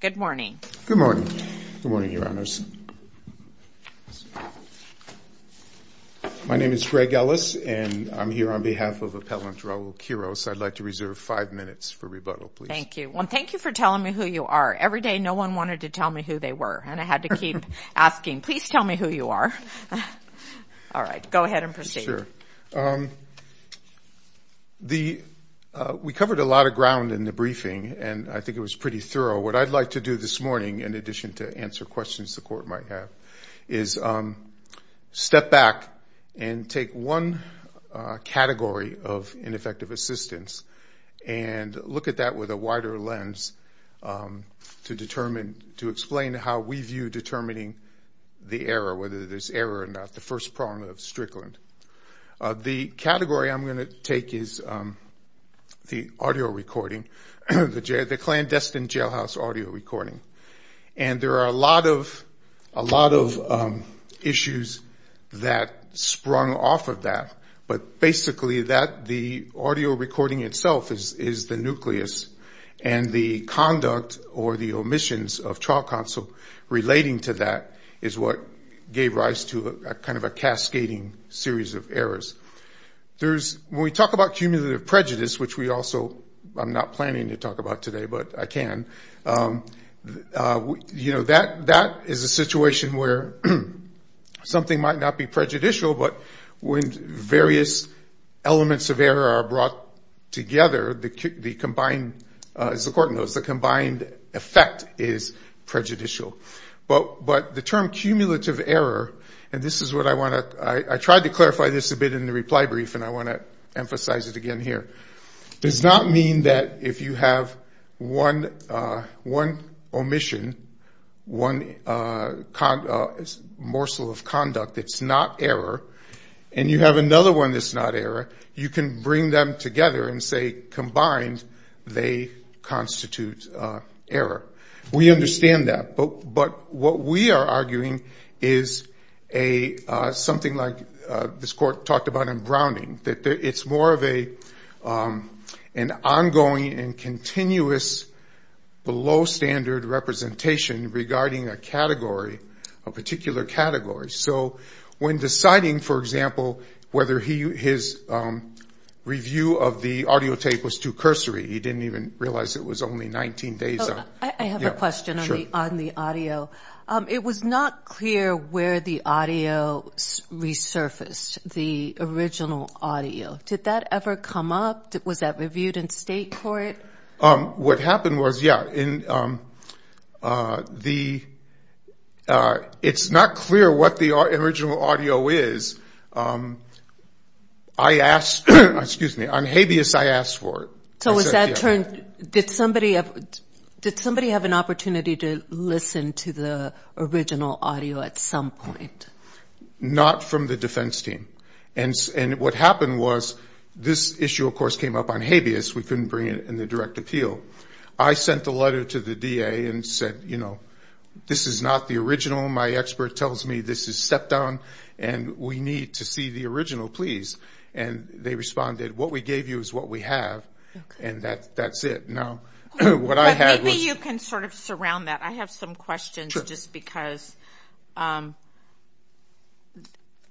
Good morning. Good morning. Good morning, Your Honors. My name is Greg Ellis, and I'm here on behalf of Appellant Raul Quiroz. I'd like to reserve five minutes for rebuttal, please. Thank you. Well, thank you for telling me who you are. Every day, no one wanted to tell me who they were, and I had to keep asking, please tell me who you are. All right, go ahead and proceed. Sure. We covered a lot of ground in the briefing, and I think it was pretty thorough. What I'd like to do this morning, in addition to answer questions the Court might have, is step back and take one category of ineffective assistance and look at that with a wider lens to explain how we view determining the error, whether there's error or not, the first prong of Strickland. The category I'm going to take is the audio recording, the clandestine jailhouse audio recording. And there are a lot of issues that sprung off of that, but basically the audio recording itself is the nucleus, and the conduct or the omissions of trial counsel relating to that is what gave rise to kind of a cascading series of errors. When we talk about cumulative prejudice, which we also, I'm not planning to talk about today, but I can, that is a situation where something might not be prejudicial, but when various elements of error are brought together, as the Court knows, the combined effect is prejudicial. But the term cumulative error, and this is what I want to, I tried to clarify this a bit in the reply brief, and I want to emphasize it again here, does not mean that if you have one omission, one morsel of conduct that's not error, and you have another one that's not error, you can bring them together and say combined they constitute error. We understand that. But what we are arguing is something like this Court talked about in Browning, that it's more of an ongoing and continuous below standard representation regarding a category, a particular category. So when deciding, for example, whether his review of the audio tape was too cursory, he didn't even realize it was only 19 days out. I have a question on the audio. It was not clear where the audio resurfaced, the original audio. Did that ever come up? Was that reviewed in State court? What happened was, yeah, it's not clear what the original audio is. I asked, excuse me, on habeas I asked for it. So did somebody have an opportunity to listen to the original audio at some point? Not from the defense team. And what happened was this issue, of course, came up on habeas. We couldn't bring it in the direct appeal. I sent a letter to the DA and said, you know, this is not the original. My expert tells me this is step down and we need to see the original, please. And they responded, what we gave you is what we have. And that's it. Maybe you can sort of surround that. I have some questions just because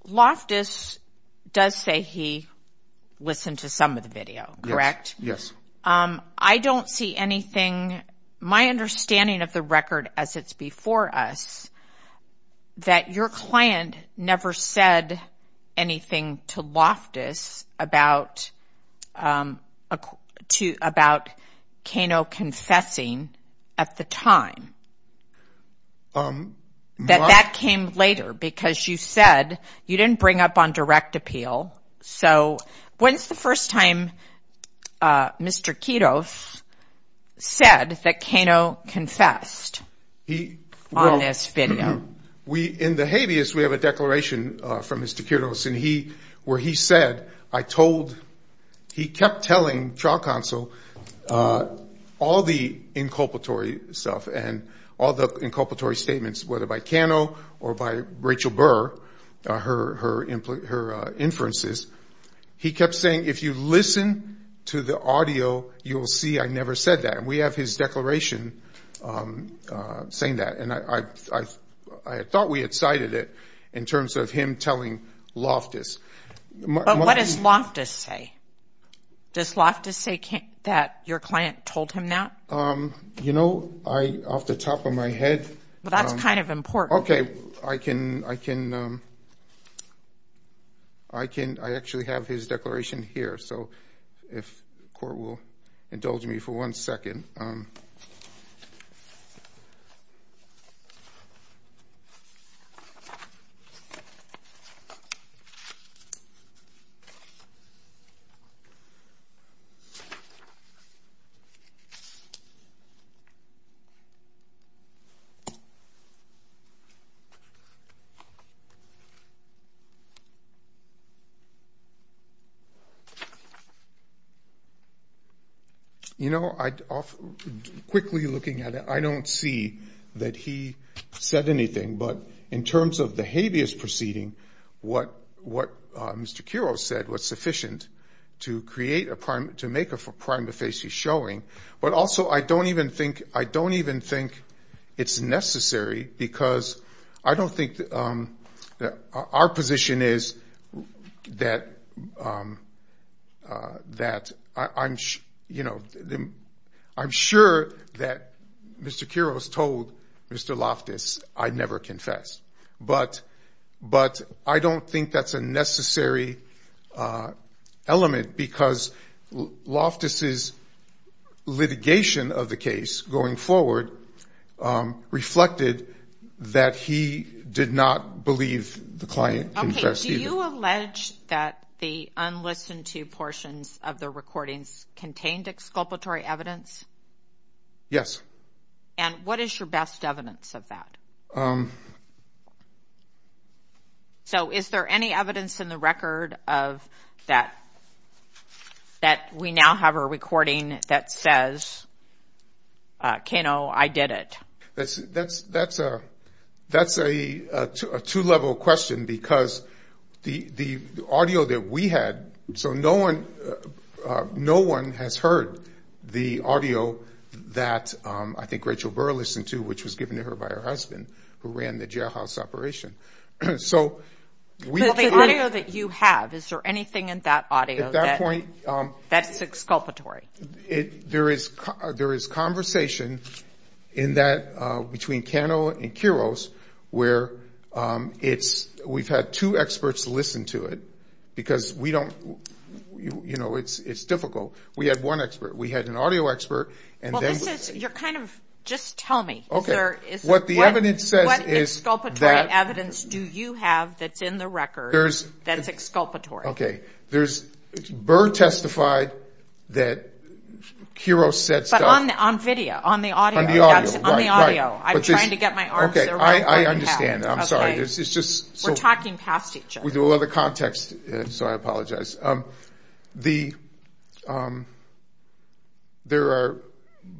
Loftus does say he listened to some of the video, correct? Yes. I don't see anything, my understanding of the record as it's before us, that your client never said anything to Loftus about Kano confessing at the time. That that came later because you said you didn't bring up on direct appeal. So when's the first time Mr. Kiedos said that Kano confessed on this video? In the habeas we have a declaration from Mr. Kiedos where he said, I told, he kept telling trial counsel all the inculpatory stuff and all the inculpatory statements, whether by Kano or by Rachel Burr, her inferences. He kept saying, if you listen to the audio, you will see I never said that. And we have his declaration saying that. And I thought we had cited it in terms of him telling Loftus. But what does Loftus say? Does Loftus say that your client told him that? You know, off the top of my head. That's kind of important. I can, I can, I can, I actually have his declaration here. So if court will indulge me for one second. You know, quickly looking at it, I don't see that he said anything. But in terms of the habeas proceeding, what Mr. Kieros said was sufficient to create a, to make a prima facie showing, but also I don't even think, I don't even think it's necessary because I don't think that our position is that, that I'm, you know, I'm sure that Mr. Kieros told Mr. Loftus I never confessed. But, but I don't think that's a necessary element because Loftus' litigation of the case going forward reflected that he did not believe the client confessed either. Okay, do you allege that the unlistened to portions of the recordings contained exculpatory evidence? Yes. And what is your best evidence of that? So is there any evidence in the record of that, that we now have a recording that says, Kano, I did it? That's, that's, that's a, that's a two-level question because the, the audio that we had, so no one, no one has heard the audio that I think Rachel Burr listened to, which was given to her by her husband, who ran the jailhouse operation. So we can't. Well, the audio that you have, is there anything in that audio that, that's exculpatory? There is, there is conversation in that, between Kano and Kieros, where it's, we've had two experts listen to it because we don't, you know, it's, it's difficult. We had one expert. We had an audio expert and then. Well, this is, you're kind of, just tell me. Okay. What the evidence says is that. What exculpatory evidence do you have that's in the record that's exculpatory? Okay, there's, Burr testified that Kieros said stuff. But on, on video, on the audio. On the audio, right, right. Okay, I understand. I'm sorry. We're talking past each other. We do a lot of context, so I apologize. The, there are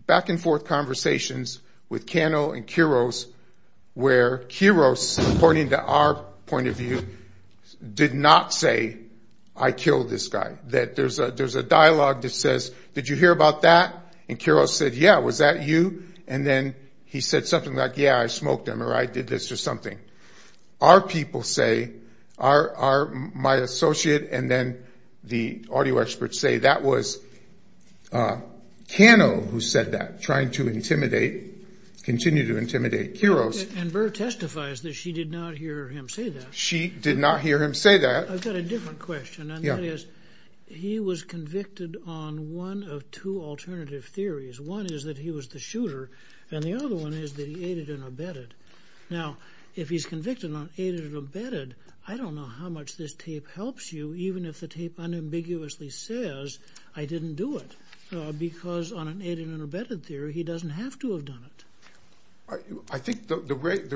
back and forth conversations with Kano and Kieros where Kieros, according to our point of view, did not say, I killed this guy. That there's a, there's a dialogue that says, did you hear about that? And Kieros said, yeah, was that you? And then he said something like, yeah, I smoked him or I did this or something. Our people say, our, my associate and then the audio experts say that was Kano who said that. Trying to intimidate, continue to intimidate Kieros. And Burr testifies that she did not hear him say that. She did not hear him say that. I've got a different question. Yeah. And that is, he was convicted on one of two alternative theories. One is that he was the shooter and the other one is that he aided and abetted. Now, if he's convicted on aided and abetted, I don't know how much this tape helps you, even if the tape unambiguously says I didn't do it. Because on an aided and abetted theory, he doesn't have to have done it. I think the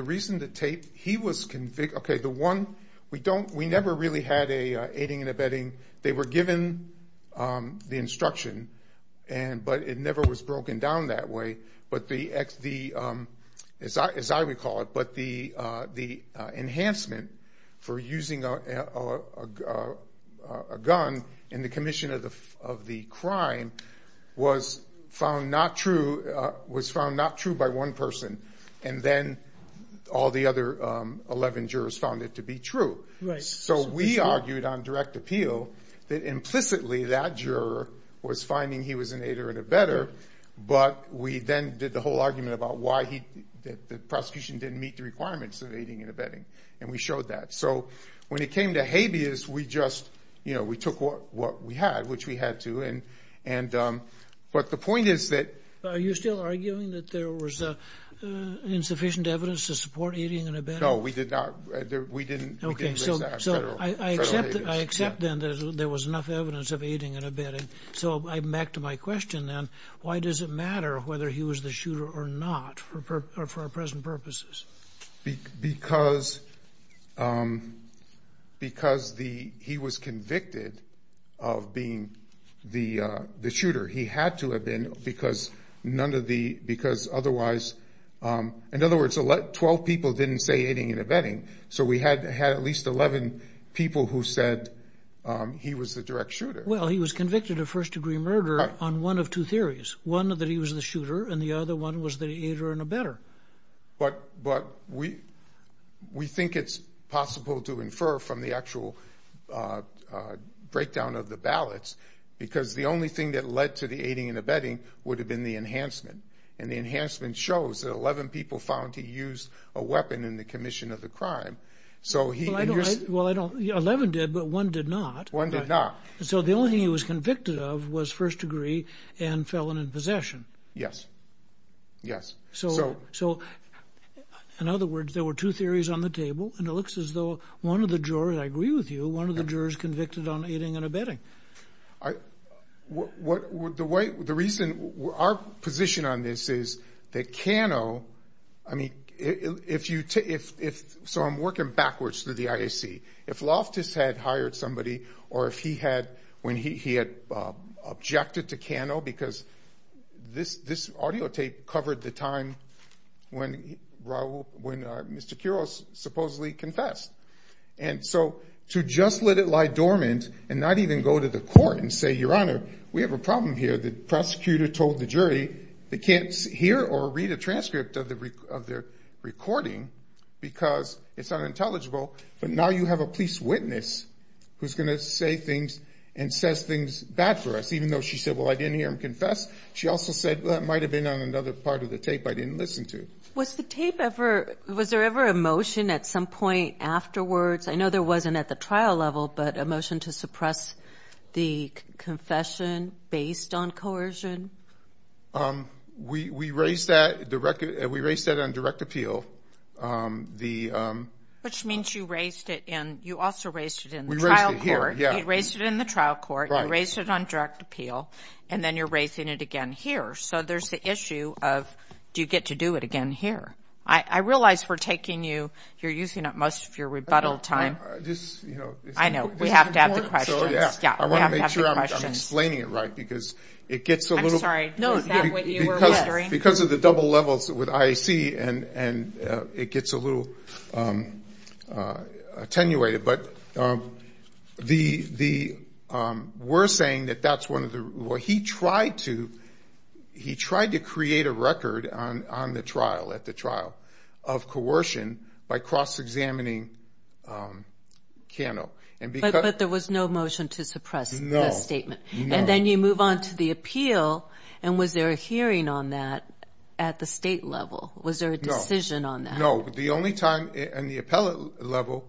reason the tape, he was, okay, the one, we don't, we never really had a aiding and abetting. They were given the instruction, but it never was broken down that way. But the, as I recall it, but the enhancement for using a gun in the commission of the crime was found not true, was found not true by one person. And then all the other 11 jurors found it to be true. Right. So we argued on direct appeal that implicitly that juror was finding he was an aider and abetter, but we then did the whole argument about why he, that the prosecution didn't meet the requirements of aiding and abetting. And we showed that. So when it came to habeas, we just, you know, we took what we had, which we had to. And, but the point is that. Are you still arguing that there was insufficient evidence to support aiding and abetting? No, we did not. We didn't. So I accept that there was enough evidence of aiding and abetting. So back to my question then. Why does it matter whether he was the shooter or not for our present purposes? Because the, he was convicted of being the shooter. He had to have been because none of the, because otherwise. In other words, 12 people didn't say aiding and abetting. So we had had at least 11 people who said he was the direct shooter. Well, he was convicted of first degree murder on one of two theories. One that he was the shooter and the other one was the aider and abetter. But, but we, we think it's possible to infer from the actual breakdown of the ballots, because the only thing that led to the aiding and abetting would have been the enhancement. And the enhancement shows that 11 people found he used a weapon in the commission of the crime. So he. Well, I don't. Well, I don't. 11 did, but one did not. One did not. So the only thing he was convicted of was first degree and felon in possession. Yes. Yes. So. So in other words, there were two theories on the table and it looks as though one of the jurors, I agree with you, one of the jurors convicted on aiding and abetting. What, what, the way, the reason, our position on this is that Cano, I mean, if you, if, if, so I'm working backwards through the IAC. If Loftus had hired somebody or if he had, when he, he had objected to Cano because this, this audio tape covered the time when Raul, when Mr. Quiroz supposedly confessed. And so to just let it lie dormant and not even go to the court and say, Your Honor, we have a problem here. The prosecutor told the jury they can't hear or read a transcript of the, of their recording because it's unintelligible. But now you have a police witness who's going to say things and says things bad for us, even though she said, well, I didn't hear him confess. She also said, well, that might've been on another part of the tape I didn't listen to. Was the tape ever, was there ever a motion at some point afterwards? I know there wasn't at the trial level, but a motion to suppress the confession based on coercion? We, we raised that direct, we raised that on direct appeal. The. Which means you raised it in, you also raised it in the trial court. We raised it here, yeah. You raised it in the trial court. Right. You raised it on direct appeal. And then you're raising it again here. So there's the issue of, do you get to do it again here? I, I realize we're taking you, you're using up most of your rebuttal time. I just, you know. I know. We have to add the questions. Yeah. I want to make sure I'm explaining it right because it gets a little. I'm sorry. No, is that what you were wondering? Because, because of the double levels with IAC and, and it gets a little attenuated. But the, the, we're saying that that's one of the, well, he tried to, he tried to create a record on, on the trial, at the trial of coercion by cross-examining Cano. But, but there was no motion to suppress the statement. No, no. And then you move on to the appeal. And was there a hearing on that at the state level? Was there a decision on that? No. The only time, in the appellate level,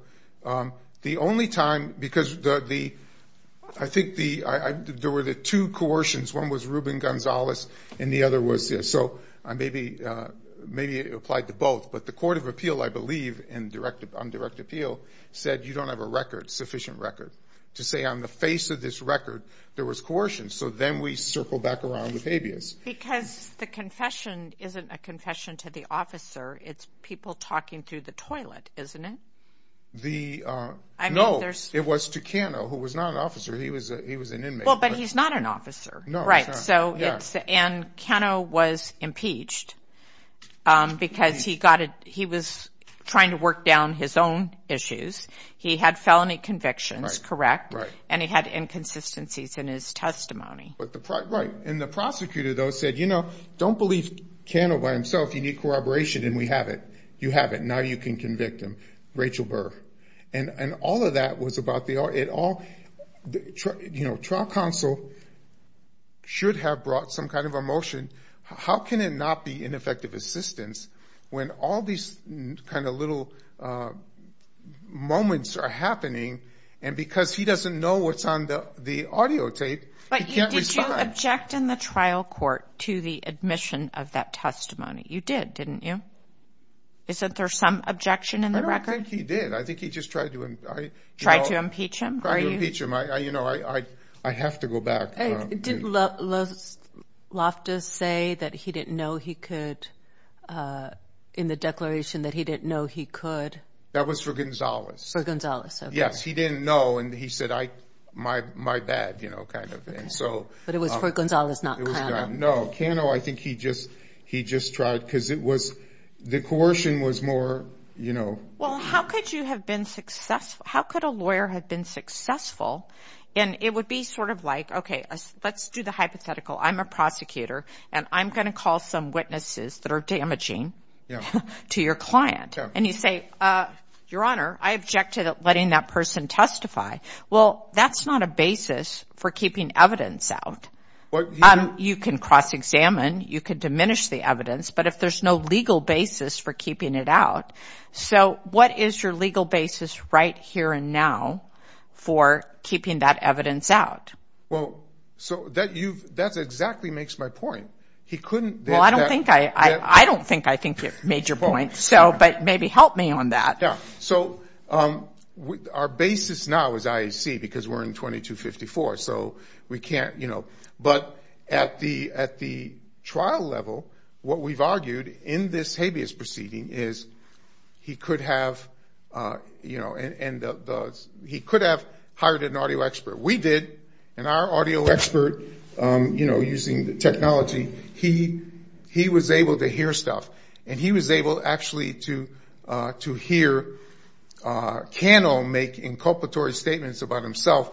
the only time, because the, the, I think the, there were the two coercions. One was Ruben Gonzalez and the other was, so maybe, maybe it applied to both. But the Court of Appeal, I believe, in direct, on direct appeal, said you don't have a record, sufficient record, to say on the face of this record there was coercion. So then we circled back around with habeas. Because the confession isn't a confession to the officer. It's people talking through the toilet, isn't it? The, no, it was to Cano, who was not an officer. He was, he was an inmate. Well, but he's not an officer. No, he's not. So it's, and Cano was impeached because he got a, he was trying to work down his own issues. He had felony convictions, correct? Right, right. And he had inconsistencies in his testimony. Right. And the prosecutor, though, said, you know, don't believe Cano by himself. You need corroboration, and we have it. You have it. Now you can convict him, Rachel Burr. And all of that was about the, it all, you know, trial counsel should have brought some kind of emotion. How can it not be ineffective assistance when all these kind of little moments are happening? And because he doesn't know what's on the audio tape, he can't respond. Did you object in the trial court to the admission of that testimony? You did, didn't you? Isn't there some objection in the record? I don't think he did. I think he just tried to impeach him. Tried to impeach him. You know, I have to go back. Did Loftus say that he didn't know he could, in the declaration, that he didn't know he could? That was for Gonzalez. For Gonzalez, okay. Yes, he didn't know, and he said, my bad, you know, kind of. But it was for Gonzalez, not Cano. No, Cano, I think he just tried because it was, the coercion was more, you know. Well, how could you have been successful? How could a lawyer have been successful? And it would be sort of like, okay, let's do the hypothetical. I'm a prosecutor, and I'm going to call some witnesses that are damaging to your client. And you say, Your Honor, I object to letting that person testify. Well, that's not a basis for keeping evidence out. You can cross-examine. You can diminish the evidence. But if there's no legal basis for keeping it out, so what is your legal basis right here and now for keeping that evidence out? Well, so that's exactly makes my point. He couldn't. Well, I don't think I think you've made your point, but maybe help me on that. Yeah, so our basis now is IAC because we're in 2254, so we can't, you know. But at the trial level, what we've argued in this habeas proceeding is he could have, you know, and he could have hired an audio expert. We did, and our audio expert, you know, using technology, he was able to hear stuff. And he was able actually to hear Cannell make inculpatory statements about himself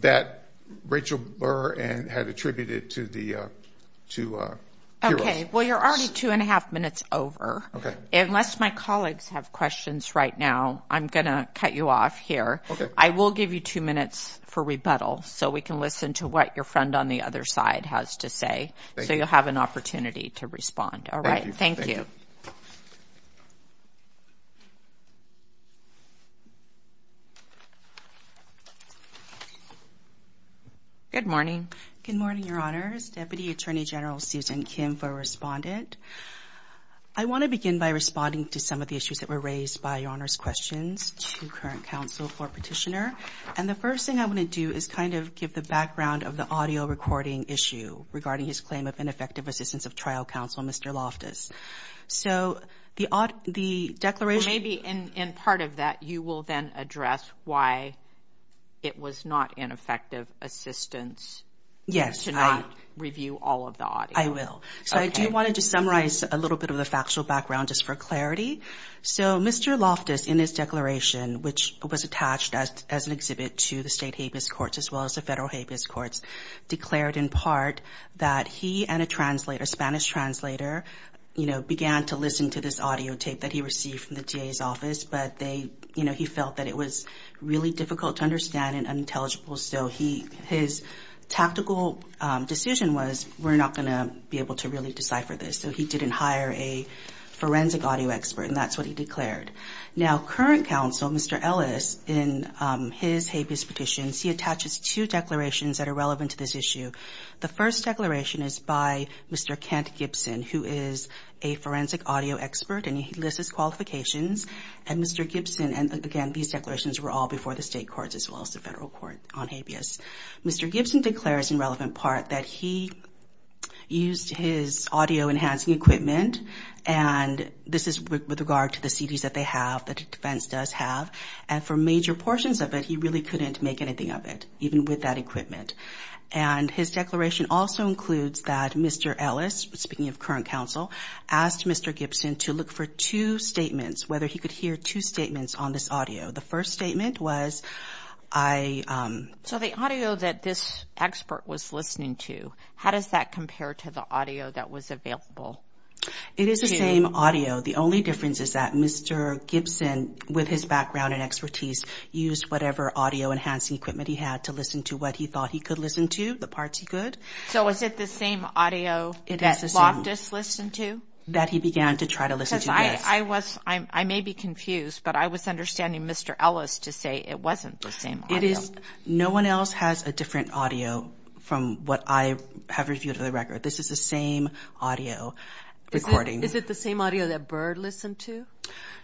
that Rachel Burr had attributed to the two heroes. Okay. Well, you're already two and a half minutes over. Okay. Unless my colleagues have questions right now, I'm going to cut you off here. Okay. I will give you two minutes for rebuttal so we can listen to what your friend on the other side has to say. Thank you. So you'll have an opportunity to respond. All right. Thank you. Good morning. Good morning, Your Honors. Deputy Attorney General Susan Kim for respondent. I want to begin by responding to some of the issues that were raised by Your Honors' questions to current counsel for petitioner. And the first thing I want to do is kind of give the background of the audio recording issue regarding his claim of ineffective assistance of trial counsel, Mr. Loftus. So the declaration – Maybe in part of that you will then address why it was not an effective assistance to not review all of the audio. I will. So I do want to just summarize a little bit of the factual background just for clarity. So Mr. Loftus, in his declaration, which was attached as an exhibit to the state Habeas Courts as well as the federal Habeas Courts, declared in part that he and a translator, a Spanish translator, you know, began to listen to this audio tape that he received from the DA's office, but they – you know, he felt that it was really difficult to understand and unintelligible. So he – his tactical decision was we're not going to be able to really decipher this. So he didn't hire a forensic audio expert, and that's what he declared. Now, current counsel, Mr. Ellis, in his Habeas petitions, he attaches two declarations that are relevant to this issue. The first declaration is by Mr. Kent Gibson, who is a forensic audio expert, and he lists his qualifications. And Mr. Gibson – and, again, these declarations were all before the state courts as well as the federal court on Habeas. Mr. Gibson declares, in relevant part, that he used his audio enhancing equipment, and this is with regard to the CDs that they have, that Defense does have, and for major portions of it he really couldn't make anything of it, even with that equipment. And his declaration also includes that Mr. Ellis, speaking of current counsel, asked Mr. Gibson to look for two statements, whether he could hear two statements on this audio. The first statement was, I – So the audio that this expert was listening to, how does that compare to the audio that was available? It is the same audio. The only difference is that Mr. Gibson, with his background and expertise, used whatever audio enhancing equipment he had to listen to what he thought he could listen to, the parts he could. So is it the same audio that Loftus listened to? That he began to try to listen to, yes. I was – I may be confused, but I was understanding Mr. Ellis to say it wasn't the same audio. It is – no one else has a different audio from what I have reviewed of the record. This is the same audio recording. Is it the same audio that Byrd listened to?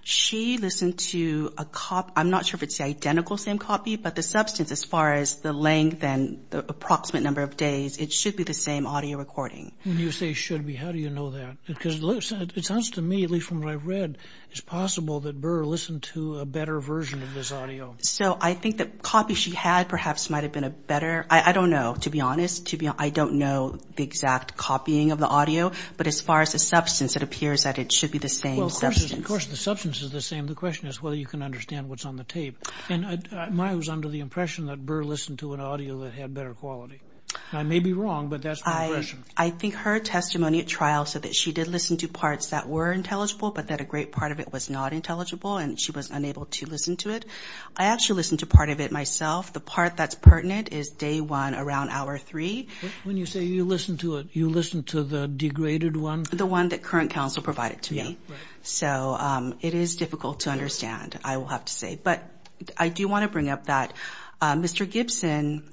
She listened to a – I'm not sure if it's the identical same copy, but the substance as far as the length and the approximate number of days, it should be the same audio recording. When you say should be, how do you know that? Because it sounds to me, at least from what I've read, it's possible that Byrd listened to a better version of this audio. So I think the copy she had perhaps might have been a better – I don't know, to be honest. I don't know the exact copying of the audio. But as far as the substance, it appears that it should be the same substance. Well, of course the substance is the same. The question is whether you can understand what's on the tape. And mine was under the impression that Byrd listened to an audio that had better quality. I may be wrong, but that's my impression. I think her testimony at trial said that she did listen to parts that were intelligible, but that a great part of it was not intelligible, and she was unable to listen to it. I actually listened to part of it myself. The part that's pertinent is day one around hour three. When you say you listened to it, you listened to the degraded one? The one that current counsel provided to me. Yeah, right. So it is difficult to understand, I will have to say. But I do want to bring up that Mr. Gibson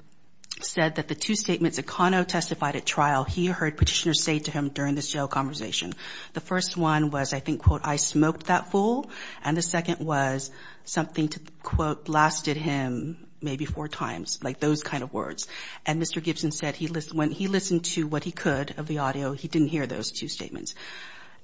said that the two statements that Ms. O'Connell testified at trial, he heard petitioners say to him during this jail conversation. The first one was, I think, quote, I smoked that fool. And the second was something to, quote, blasted him maybe four times, like those kind of words. And Mr. Gibson said when he listened to what he could of the audio, he didn't hear those two statements.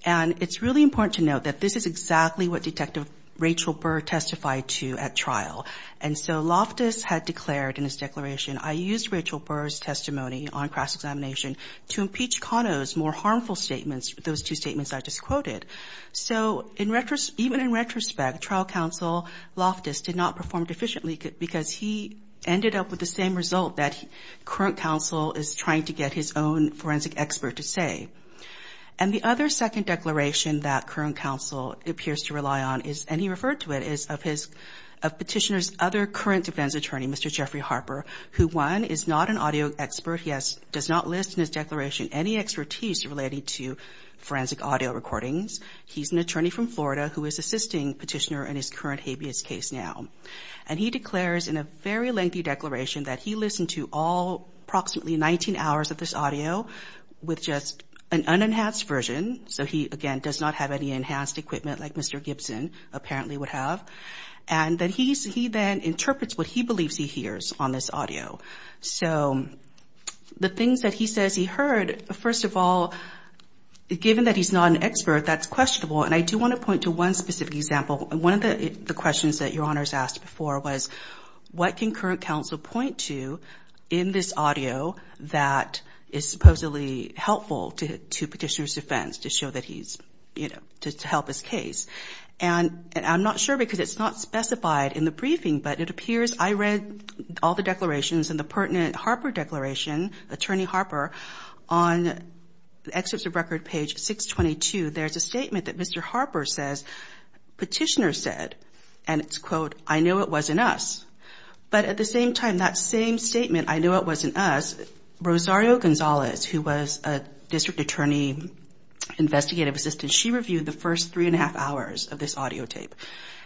And it's really important to note that this is exactly what Detective Rachel Burr testified to at trial. And so Loftus had declared in his declaration, I used Rachel Burr's testimony on cross-examination to impeach Cano's more harmful statements, those two statements I just quoted. So even in retrospect, trial counsel Loftus did not perform deficiently because he ended up with the same result that current counsel is trying to get his own forensic expert to say. And the other second declaration that current counsel appears to rely on is, and he referred to it, is of petitioner's other current defense attorney, Mr. Jeffrey Harper, who, one, is not an audio expert. He does not list in his declaration any expertise related to forensic audio recordings. He's an attorney from Florida who is assisting petitioner in his current habeas case now. And he declares in a very lengthy declaration that he listened to all approximately 19 hours of this audio with just an unenhanced version. So he, again, does not have any enhanced equipment like Mr. Gibson apparently would have. And that he then interprets what he believes he hears on this audio. So the things that he says he heard, first of all, given that he's not an expert, that's questionable. And I do want to point to one specific example. One of the questions that Your Honors asked before was, what can current counsel point to in this audio that is supposedly helpful to petitioner's defense to show that he's, you know, to help his case? And I'm not sure because it's not specified in the briefing, but it appears I read all the declarations in the pertinent Harper declaration, attorney Harper, on the excerpts of record page 622. There's a statement that Mr. Harper says petitioner said. And it's, quote, I know it wasn't us. But at the same time, that same statement, I know it wasn't us, Rosario Gonzalez, who was a district attorney investigative assistant, she reviewed the first three and a half hours of this audio tape.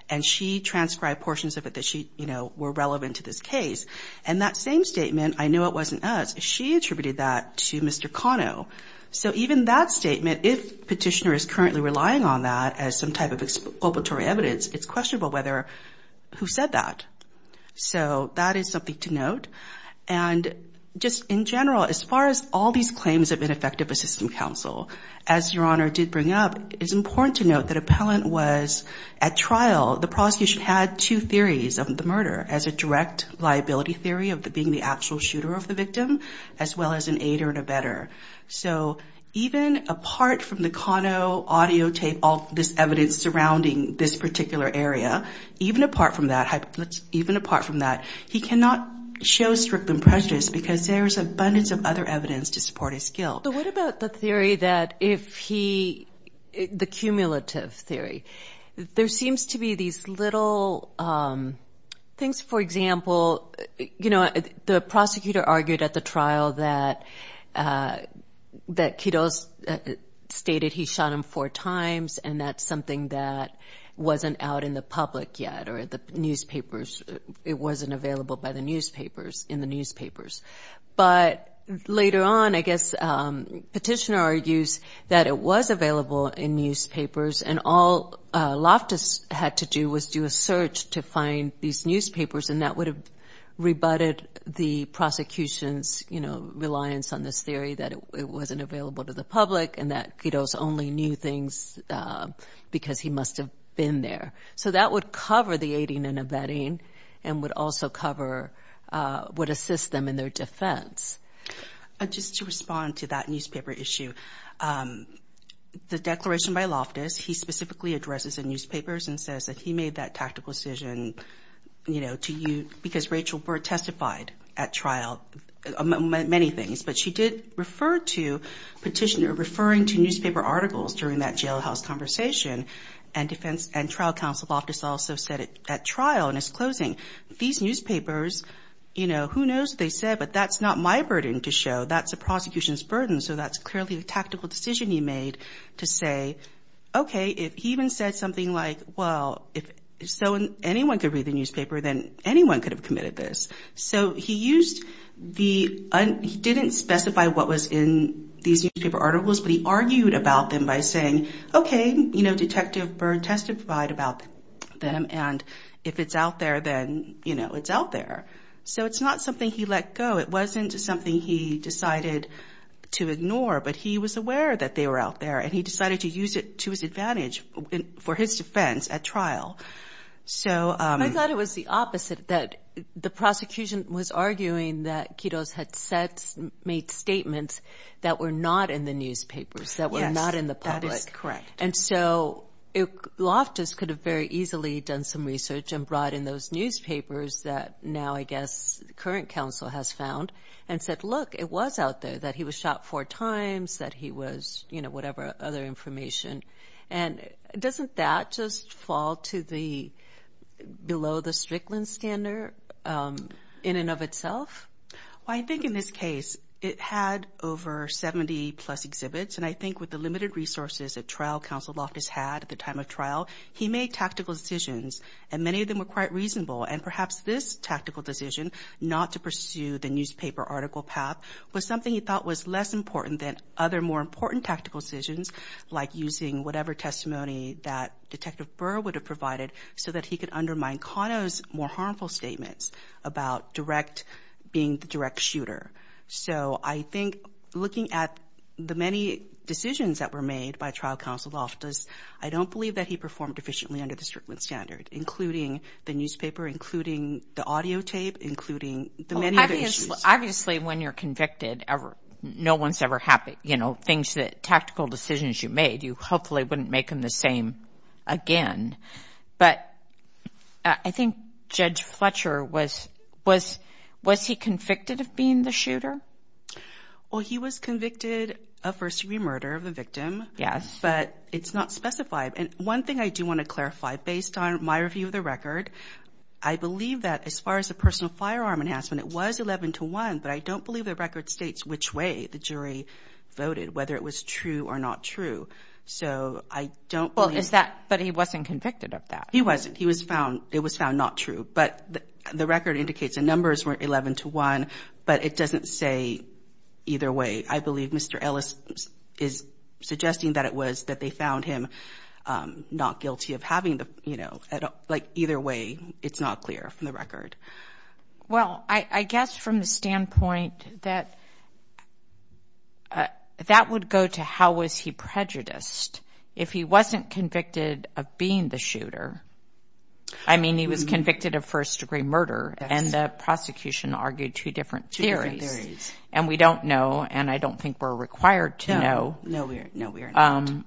And she transcribed portions of it that she, you know, were relevant to this case. And that same statement, I know it wasn't us, she attributed that to Mr. Cano. So even that statement, if petitioner is currently relying on that as some type of exploratory evidence, it's questionable whether who said that. So that is something to note. And just in general, as far as all these claims have been effective with system counsel, as Your Honor did bring up, it's important to note that appellant was at trial. The prosecution had two theories of the murder as a direct liability theory of being the actual shooter of the victim, as well as an aider and abettor. So even apart from the Cano audio tape, all this evidence surrounding this particular area, even apart from that, he cannot show strictly prejudice because there is abundance of other evidence to support his guilt. But what about the theory that if he, the cumulative theory? There seems to be these little things, for example, you know, the prosecutor argued at the trial that Quiroz stated he shot him four times and that's something that wasn't out in the public yet or the newspapers, it wasn't available in the newspapers. But later on, I guess petitioner argues that it was available in newspapers and all Loftus had to do was do a search to find these newspapers and that would have rebutted the prosecution's, you know, reliance on this theory that it wasn't available to the public and that Quiroz only knew things because he must have been there. So that would cover the aiding and abetting and would also cover what assists them in their defense. Just to respond to that newspaper issue, the declaration by Loftus, he specifically addresses the newspapers and says that he made that tactical decision, you know, to you, because Rachel Burr testified at trial on many things. But she did refer to petitioner referring to newspaper articles during that jailhouse conversation and trial counsel Loftus also said at trial in his closing, these newspapers, you know, who knows what they said, but that's not my burden to show. That's the prosecution's burden, so that's clearly a tactical decision he made to say, okay, if he even said something like, well, if so anyone could read the newspaper, then anyone could have committed this. So he didn't specify what was in these newspaper articles, but he argued about them by saying, okay, you know, Detective Burr testified about them and if it's out there, then, you know, it's out there. So it's not something he let go. It wasn't something he decided to ignore, but he was aware that they were out there and he decided to use it to his advantage for his defense at trial. I thought it was the opposite, that the prosecution was arguing that Quiroz had made statements that were not in the newspapers, that were not in the public. And so Loftus could have very easily done some research and brought in those newspapers that now I guess the current counsel has found and said, look, it was out there, that he was shot four times, that he was, you know, whatever other information. And doesn't that just fall below the Strickland standard in and of itself? Well, I think in this case it had over 70-plus exhibits, and I think with the limited resources that trial counsel Loftus had at the time of trial, he made tactical decisions, and many of them were quite reasonable. And perhaps this tactical decision, not to pursue the newspaper article path, was something he thought was less important than other more important tactical decisions like using whatever testimony that Detective Burr would have provided so that he could undermine Cano's more harmful statements about direct, being the direct shooter. So I think looking at the many decisions that were made by trial counsel Loftus, I don't believe that he performed efficiently under the Strickland standard, including the newspaper, including the audio tape, including the many other issues. Obviously when you're convicted, no one's ever happy, you know, and they wouldn't make him the same again. But I think Judge Fletcher was, was he convicted of being the shooter? Well, he was convicted of first-degree murder of the victim. Yes. But it's not specified. And one thing I do want to clarify, based on my review of the record, I believe that as far as the personal firearm enhancement, it was 11 to 1, but I don't believe the record states which way the jury voted, whether it was true or not true. So I don't believe... But he wasn't convicted of that. He wasn't. He was found, it was found not true. But the record indicates the numbers were 11 to 1, but it doesn't say either way. I believe Mr. Ellis is suggesting that it was, that they found him not guilty of having the, you know, like either way, it's not clear from the record. Well, I guess from the standpoint that, that would go to how was he prejudiced. If he wasn't convicted of being the shooter, I mean, he was convicted of first-degree murder, and the prosecution argued two different theories, and we don't know, and I don't think we're required to know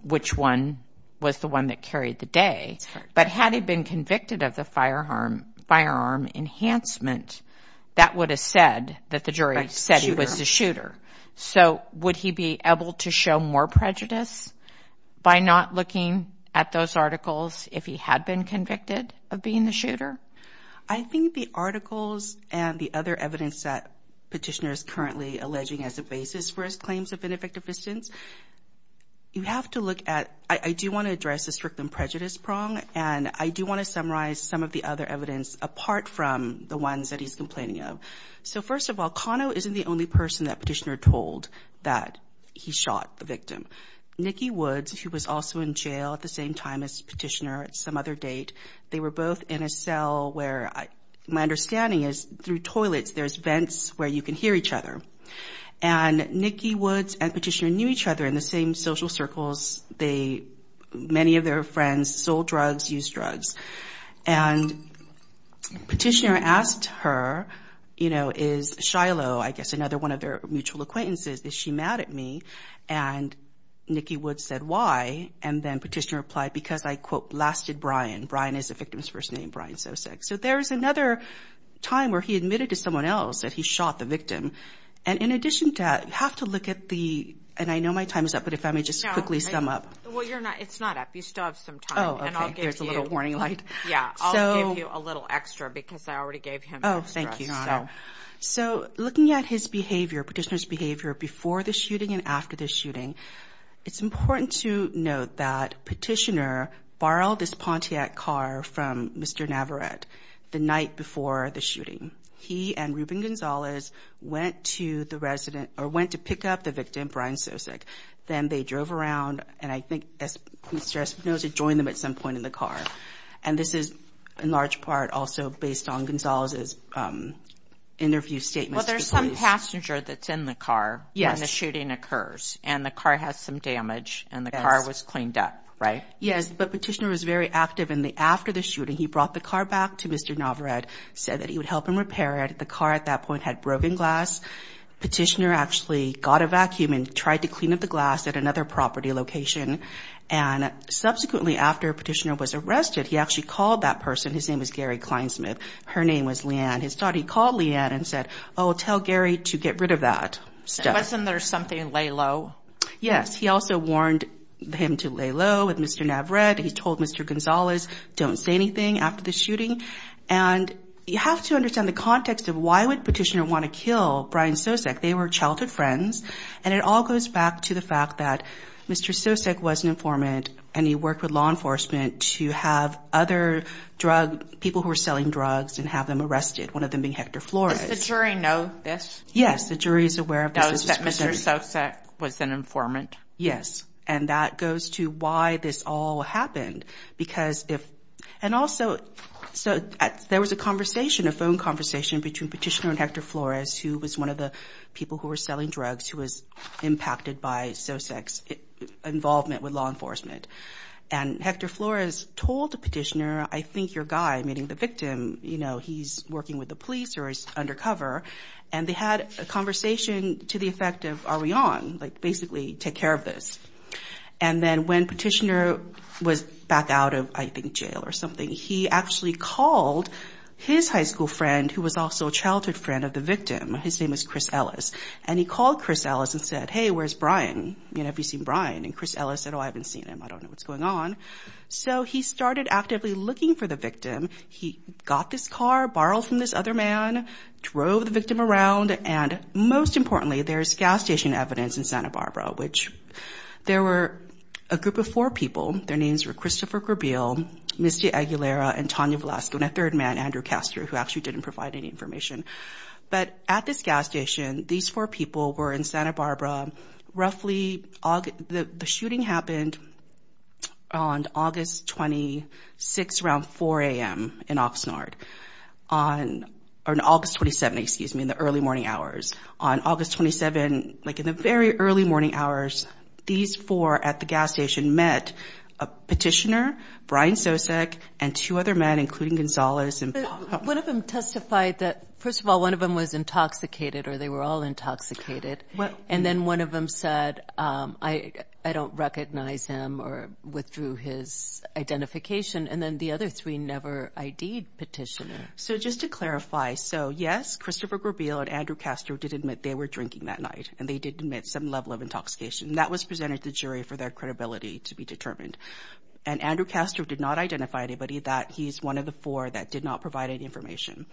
which one was the one that carried the day. But had he been convicted of the firearm enhancement, that would have said that the jury said he was the shooter. So would he be able to show more prejudice by not looking at those articles if he had been convicted of being the shooter? I think the articles and the other evidence that Petitioner is currently alleging as a basis for his claims of ineffective assistance, you have to look at... I do want to address the strict and prejudice prong, and I do want to summarize some of the other evidence apart from the ones that he's complaining of. So first of all, Kano isn't the only person that Petitioner told that he shot the victim. Nicky Woods, who was also in jail at the same time as Petitioner at some other date, they were both in a cell where, my understanding is, through toilets, there's vents where you can hear each other. And Nicky Woods and Petitioner knew each other in the same social circles. Many of their friends sold drugs, used drugs. And Petitioner asked her, you know, is Shiloh, I guess another one of their mutual acquaintances, is she mad at me? And Nicky Woods said, why? And then Petitioner replied, because I, quote, blasted Brian. Brian is the victim's first name, Brian Sosek. So there's another time where he admitted to someone else that he shot the victim. And in addition to that, you have to look at the, and I know my time is up, but if I may just quickly sum up. Well, you're not, it's not up. You still have some time. Oh, okay. There's a little warning light. Yeah, I'll give you a little extra, because I already gave him extra. Oh, thank you. So looking at his behavior, Petitioner's behavior, before the shooting and after the shooting, it's important to note that Petitioner borrowed this Pontiac car from Mr. Navarette the night before the shooting. He and Ruben Gonzalez went to the resident, or went to pick up the victim, Brian Sosek. Then they drove around, and I think as Mr. Espinoza joined them at some point in the car. And this is in large part also based on Gonzalez's interview statements. Well, there's some passenger that's in the car when the shooting occurs. And the car has some damage, and the car was cleaned up, right? Yes, but Petitioner was very active. And after the shooting, he brought the car back to Mr. Navarette, said that he would help him repair it. The car at that point had broken glass. Petitioner actually got a vacuum and tried to clean up the glass at another property location. And subsequently, after Petitioner was arrested, he actually called that person. His name was Gary Kleinsmith. Her name was Leanne. His daughter, he called Leanne and said, oh, tell Gary to get rid of that stuff. Wasn't there something, lay low? Yes, he also warned him to lay low with Mr. Navarette. He told Mr. Gonzalez, don't say anything after the shooting. And you have to understand the context of why would Petitioner want to kill Brian Sosek. They were childhood friends. And it all goes back to the fact that Mr. Sosek was an informant, and he worked with law enforcement to have other drug, people who were selling drugs, and have them arrested, one of them being Hector Flores. Does the jury know this? Yes, the jury is aware of this. Does the jury know that Mr. Sosek was an informant? Yes. And that goes to why this all happened. Because if, and also, so there was a conversation, a phone conversation between Petitioner and Hector Flores, who was one of the people who were selling drugs, who was impacted by Sosek's involvement with law enforcement. And Hector Flores told Petitioner, I think your guy, meaning the victim, you know, he's working with the police or is undercover. And they had a conversation to the effect of, are we on? Like, basically, take care of this. And then when Petitioner was back out of, I think, jail or something, he actually called his high school friend, who was also a childhood friend of the victim. His name was Chris Ellis. And he called Chris Ellis and said, hey, where's Brian? You know, have you seen Brian? And Chris Ellis said, oh, I haven't seen him. I don't know what's going on. So he started actively looking for the victim. He got this car, borrowed from this other man, drove the victim around, and most importantly, there's gas station evidence in Santa Barbara, which there were a group of four people. Their names were Christopher Grabiel, Misty Aguilera, and Tonya Velasco, and a third man, Andrew Castor, who actually didn't provide any information. But at this gas station, these four people were in Santa Barbara. Roughly, the shooting happened on August 26, around 4 a.m. in Oxnard. On August 27, excuse me, in the early morning hours. On August 27, like in the very early morning hours, these four at the gas station met Petitioner, Brian Sosek, and two other men, including Gonzales. One of them testified that, first of all, one of them was intoxicated, or they were all intoxicated. And then one of them said, I don't recognize him or withdrew his identification. And then the other three never ID'd Petitioner. So just to clarify, so yes, Christopher Grabiel and Andrew Castor did admit they were drinking that night, and they did admit some level of intoxication. That was presented to the jury for their credibility to be determined. And Andrew Castor did not identify anybody that he's one of the four that did not provide any information.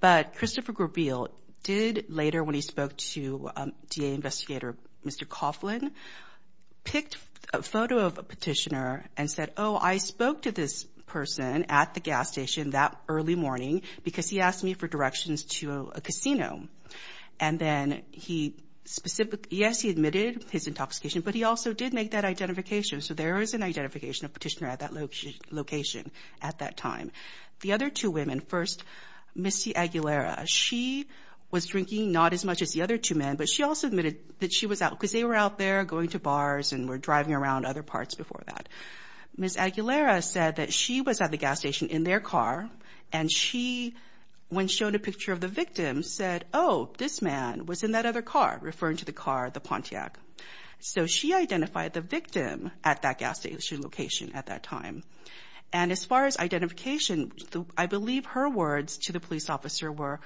But Christopher Grabiel did later, when he spoke to DA investigator Mr. Coughlin, picked a photo of Petitioner and said, oh, I spoke to this person at the gas station that early morning because he asked me for directions to a casino. And then he specifically, yes, he admitted his intoxication, but he also did make that identification. So there is an identification of Petitioner at that location at that time. The other two women, first Missy Aguilera, she was drinking not as much as the other two men, but she also admitted that she was out because they were out there going to bars and were driving around other parts before that. Miss Aguilera said that she was at the gas station in their car, and she, when shown a picture of the victim, said, oh, this man was in that other car, referring to the car, the Pontiac. So she identified the victim at that gas station location at that time. And as far as identification, I believe her words to the police officer were,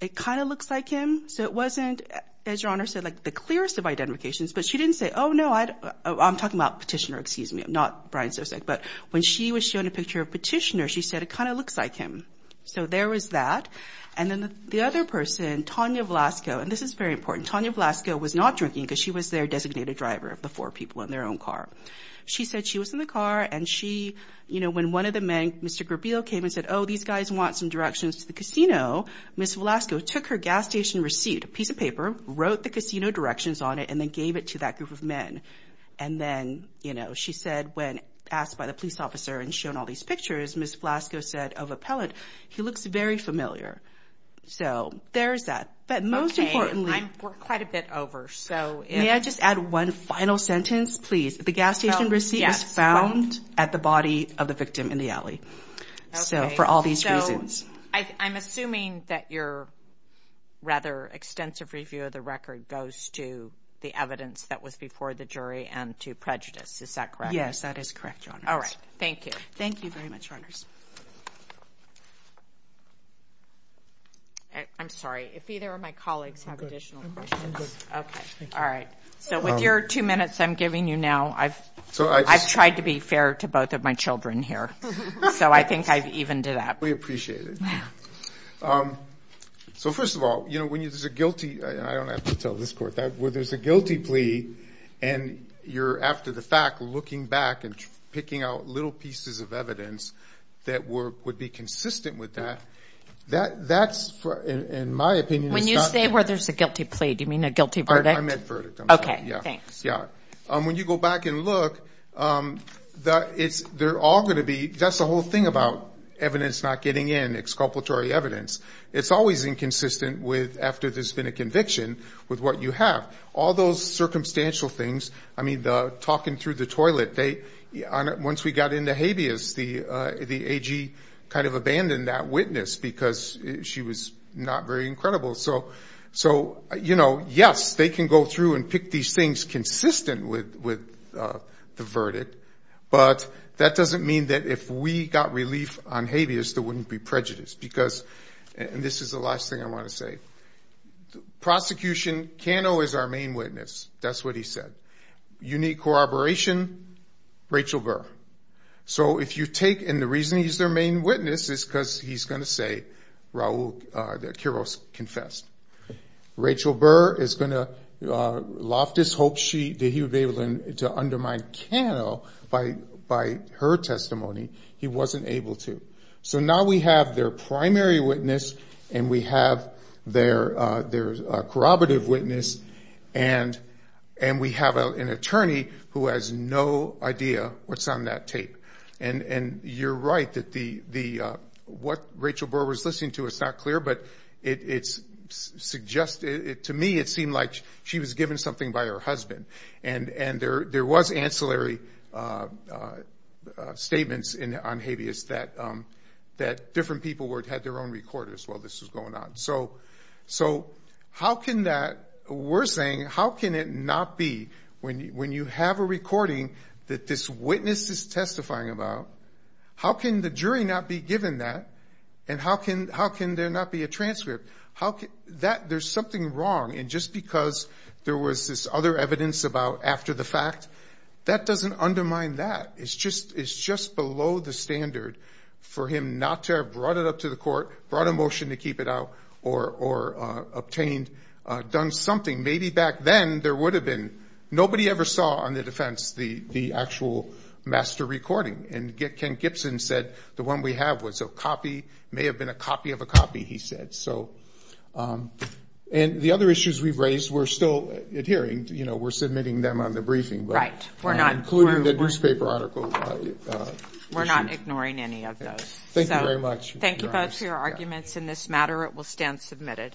it kind of looks like him. So it wasn't, as Your Honor said, like the clearest of identifications. But she didn't say, oh, no, I'm talking about Petitioner, excuse me, not Brian Sosek. But when she was shown a picture of Petitioner, she said, it kind of looks like him. So there was that. And then the other person, Tonya Velasco, and this is very important, Tonya Velasco was not drinking because she was their designated driver of the four people in their own car. She said she was in the car, and she, you know, when one of the men, Mr. Grabiel, came and said, oh, these guys want some directions to the casino, Miss Velasco took her gas station receipt, a piece of paper, wrote the casino directions on it, and then gave it to that group of men. And then, you know, she said, when asked by the police officer and shown all these pictures, Miss Velasco said of Appellant, he looks very familiar. So there's that. But most importantly – I'm quite a bit over. May I just add one final sentence, please? The gas station receipt was found at the body of the victim in the alley. Okay. So for all these reasons. So I'm assuming that your rather extensive review of the record goes to the evidence that was before the jury and to prejudice. Is that correct? Yes, that is correct, Your Honor. All right. Thank you. Thank you very much, Your Honors. I'm sorry. If either of my colleagues have additional questions. Okay. All right. So with your two minutes I'm giving you now, I've tried to be fair to both of my children here. So I think I've evened it up. We appreciate it. So first of all, you know, when there's a guilty – and I don't have to tell this court that – where there's a guilty plea and you're, after the fact, looking back and picking out little pieces of evidence that would be consistent with that, that's, in my opinion, it's not – When you say where there's a guilty plea, do you mean a guilty verdict? I meant verdict, I'm sorry. Okay. Thanks. Yeah. When you go back and look, they're all going to be – that's the whole thing about evidence not getting in, exculpatory evidence. It's always inconsistent with, after there's been a conviction, with what you have. All those circumstantial things, I mean, the talking through the toilet, once we got into habeas, the AG kind of abandoned that witness because she was not very incredible. So, you know, yes, they can go through and pick these things consistent with the verdict, but that doesn't mean that if we got relief on habeas, there wouldn't be prejudice. Because – and this is the last thing I want to say – prosecution, Cano is our main witness. That's what he said. Unique corroboration, Rachel Burr. So if you take – and the reason he's their main witness is because he's going to say Raul – that Quiroz confessed. Rachel Burr is going to loft his hopes that he would be able to undermine Cano by her testimony. He wasn't able to. So now we have their primary witness, and we have their corroborative witness, and we have an attorney who has no idea what's on that tape. And you're right that the – what Rachel Burr was listening to is not clear, but it's suggested – to me it seemed like she was given something by her husband. And there was ancillary statements on habeas that different people had their own record as well. This was going on. So how can that – we're saying how can it not be when you have a recording that this witness is testifying about, how can the jury not be given that, and how can there not be a transcript? There's something wrong. And just because there was this other evidence about after the fact, that doesn't undermine that. It's just below the standard for him not to have brought it up to the court, brought a motion to keep it out, or obtained – done something. Maybe back then there would have been – nobody ever saw on the defense the actual master recording. And Ken Gibson said the one we have was a copy, may have been a copy of a copy, he said. So – and the other issues we've raised, we're still adhering. You know, we're submitting them on the briefing. Right. We're not – we're not ignoring any of those. Thank you very much. Thank you both for your arguments in this matter. It will stand submitted.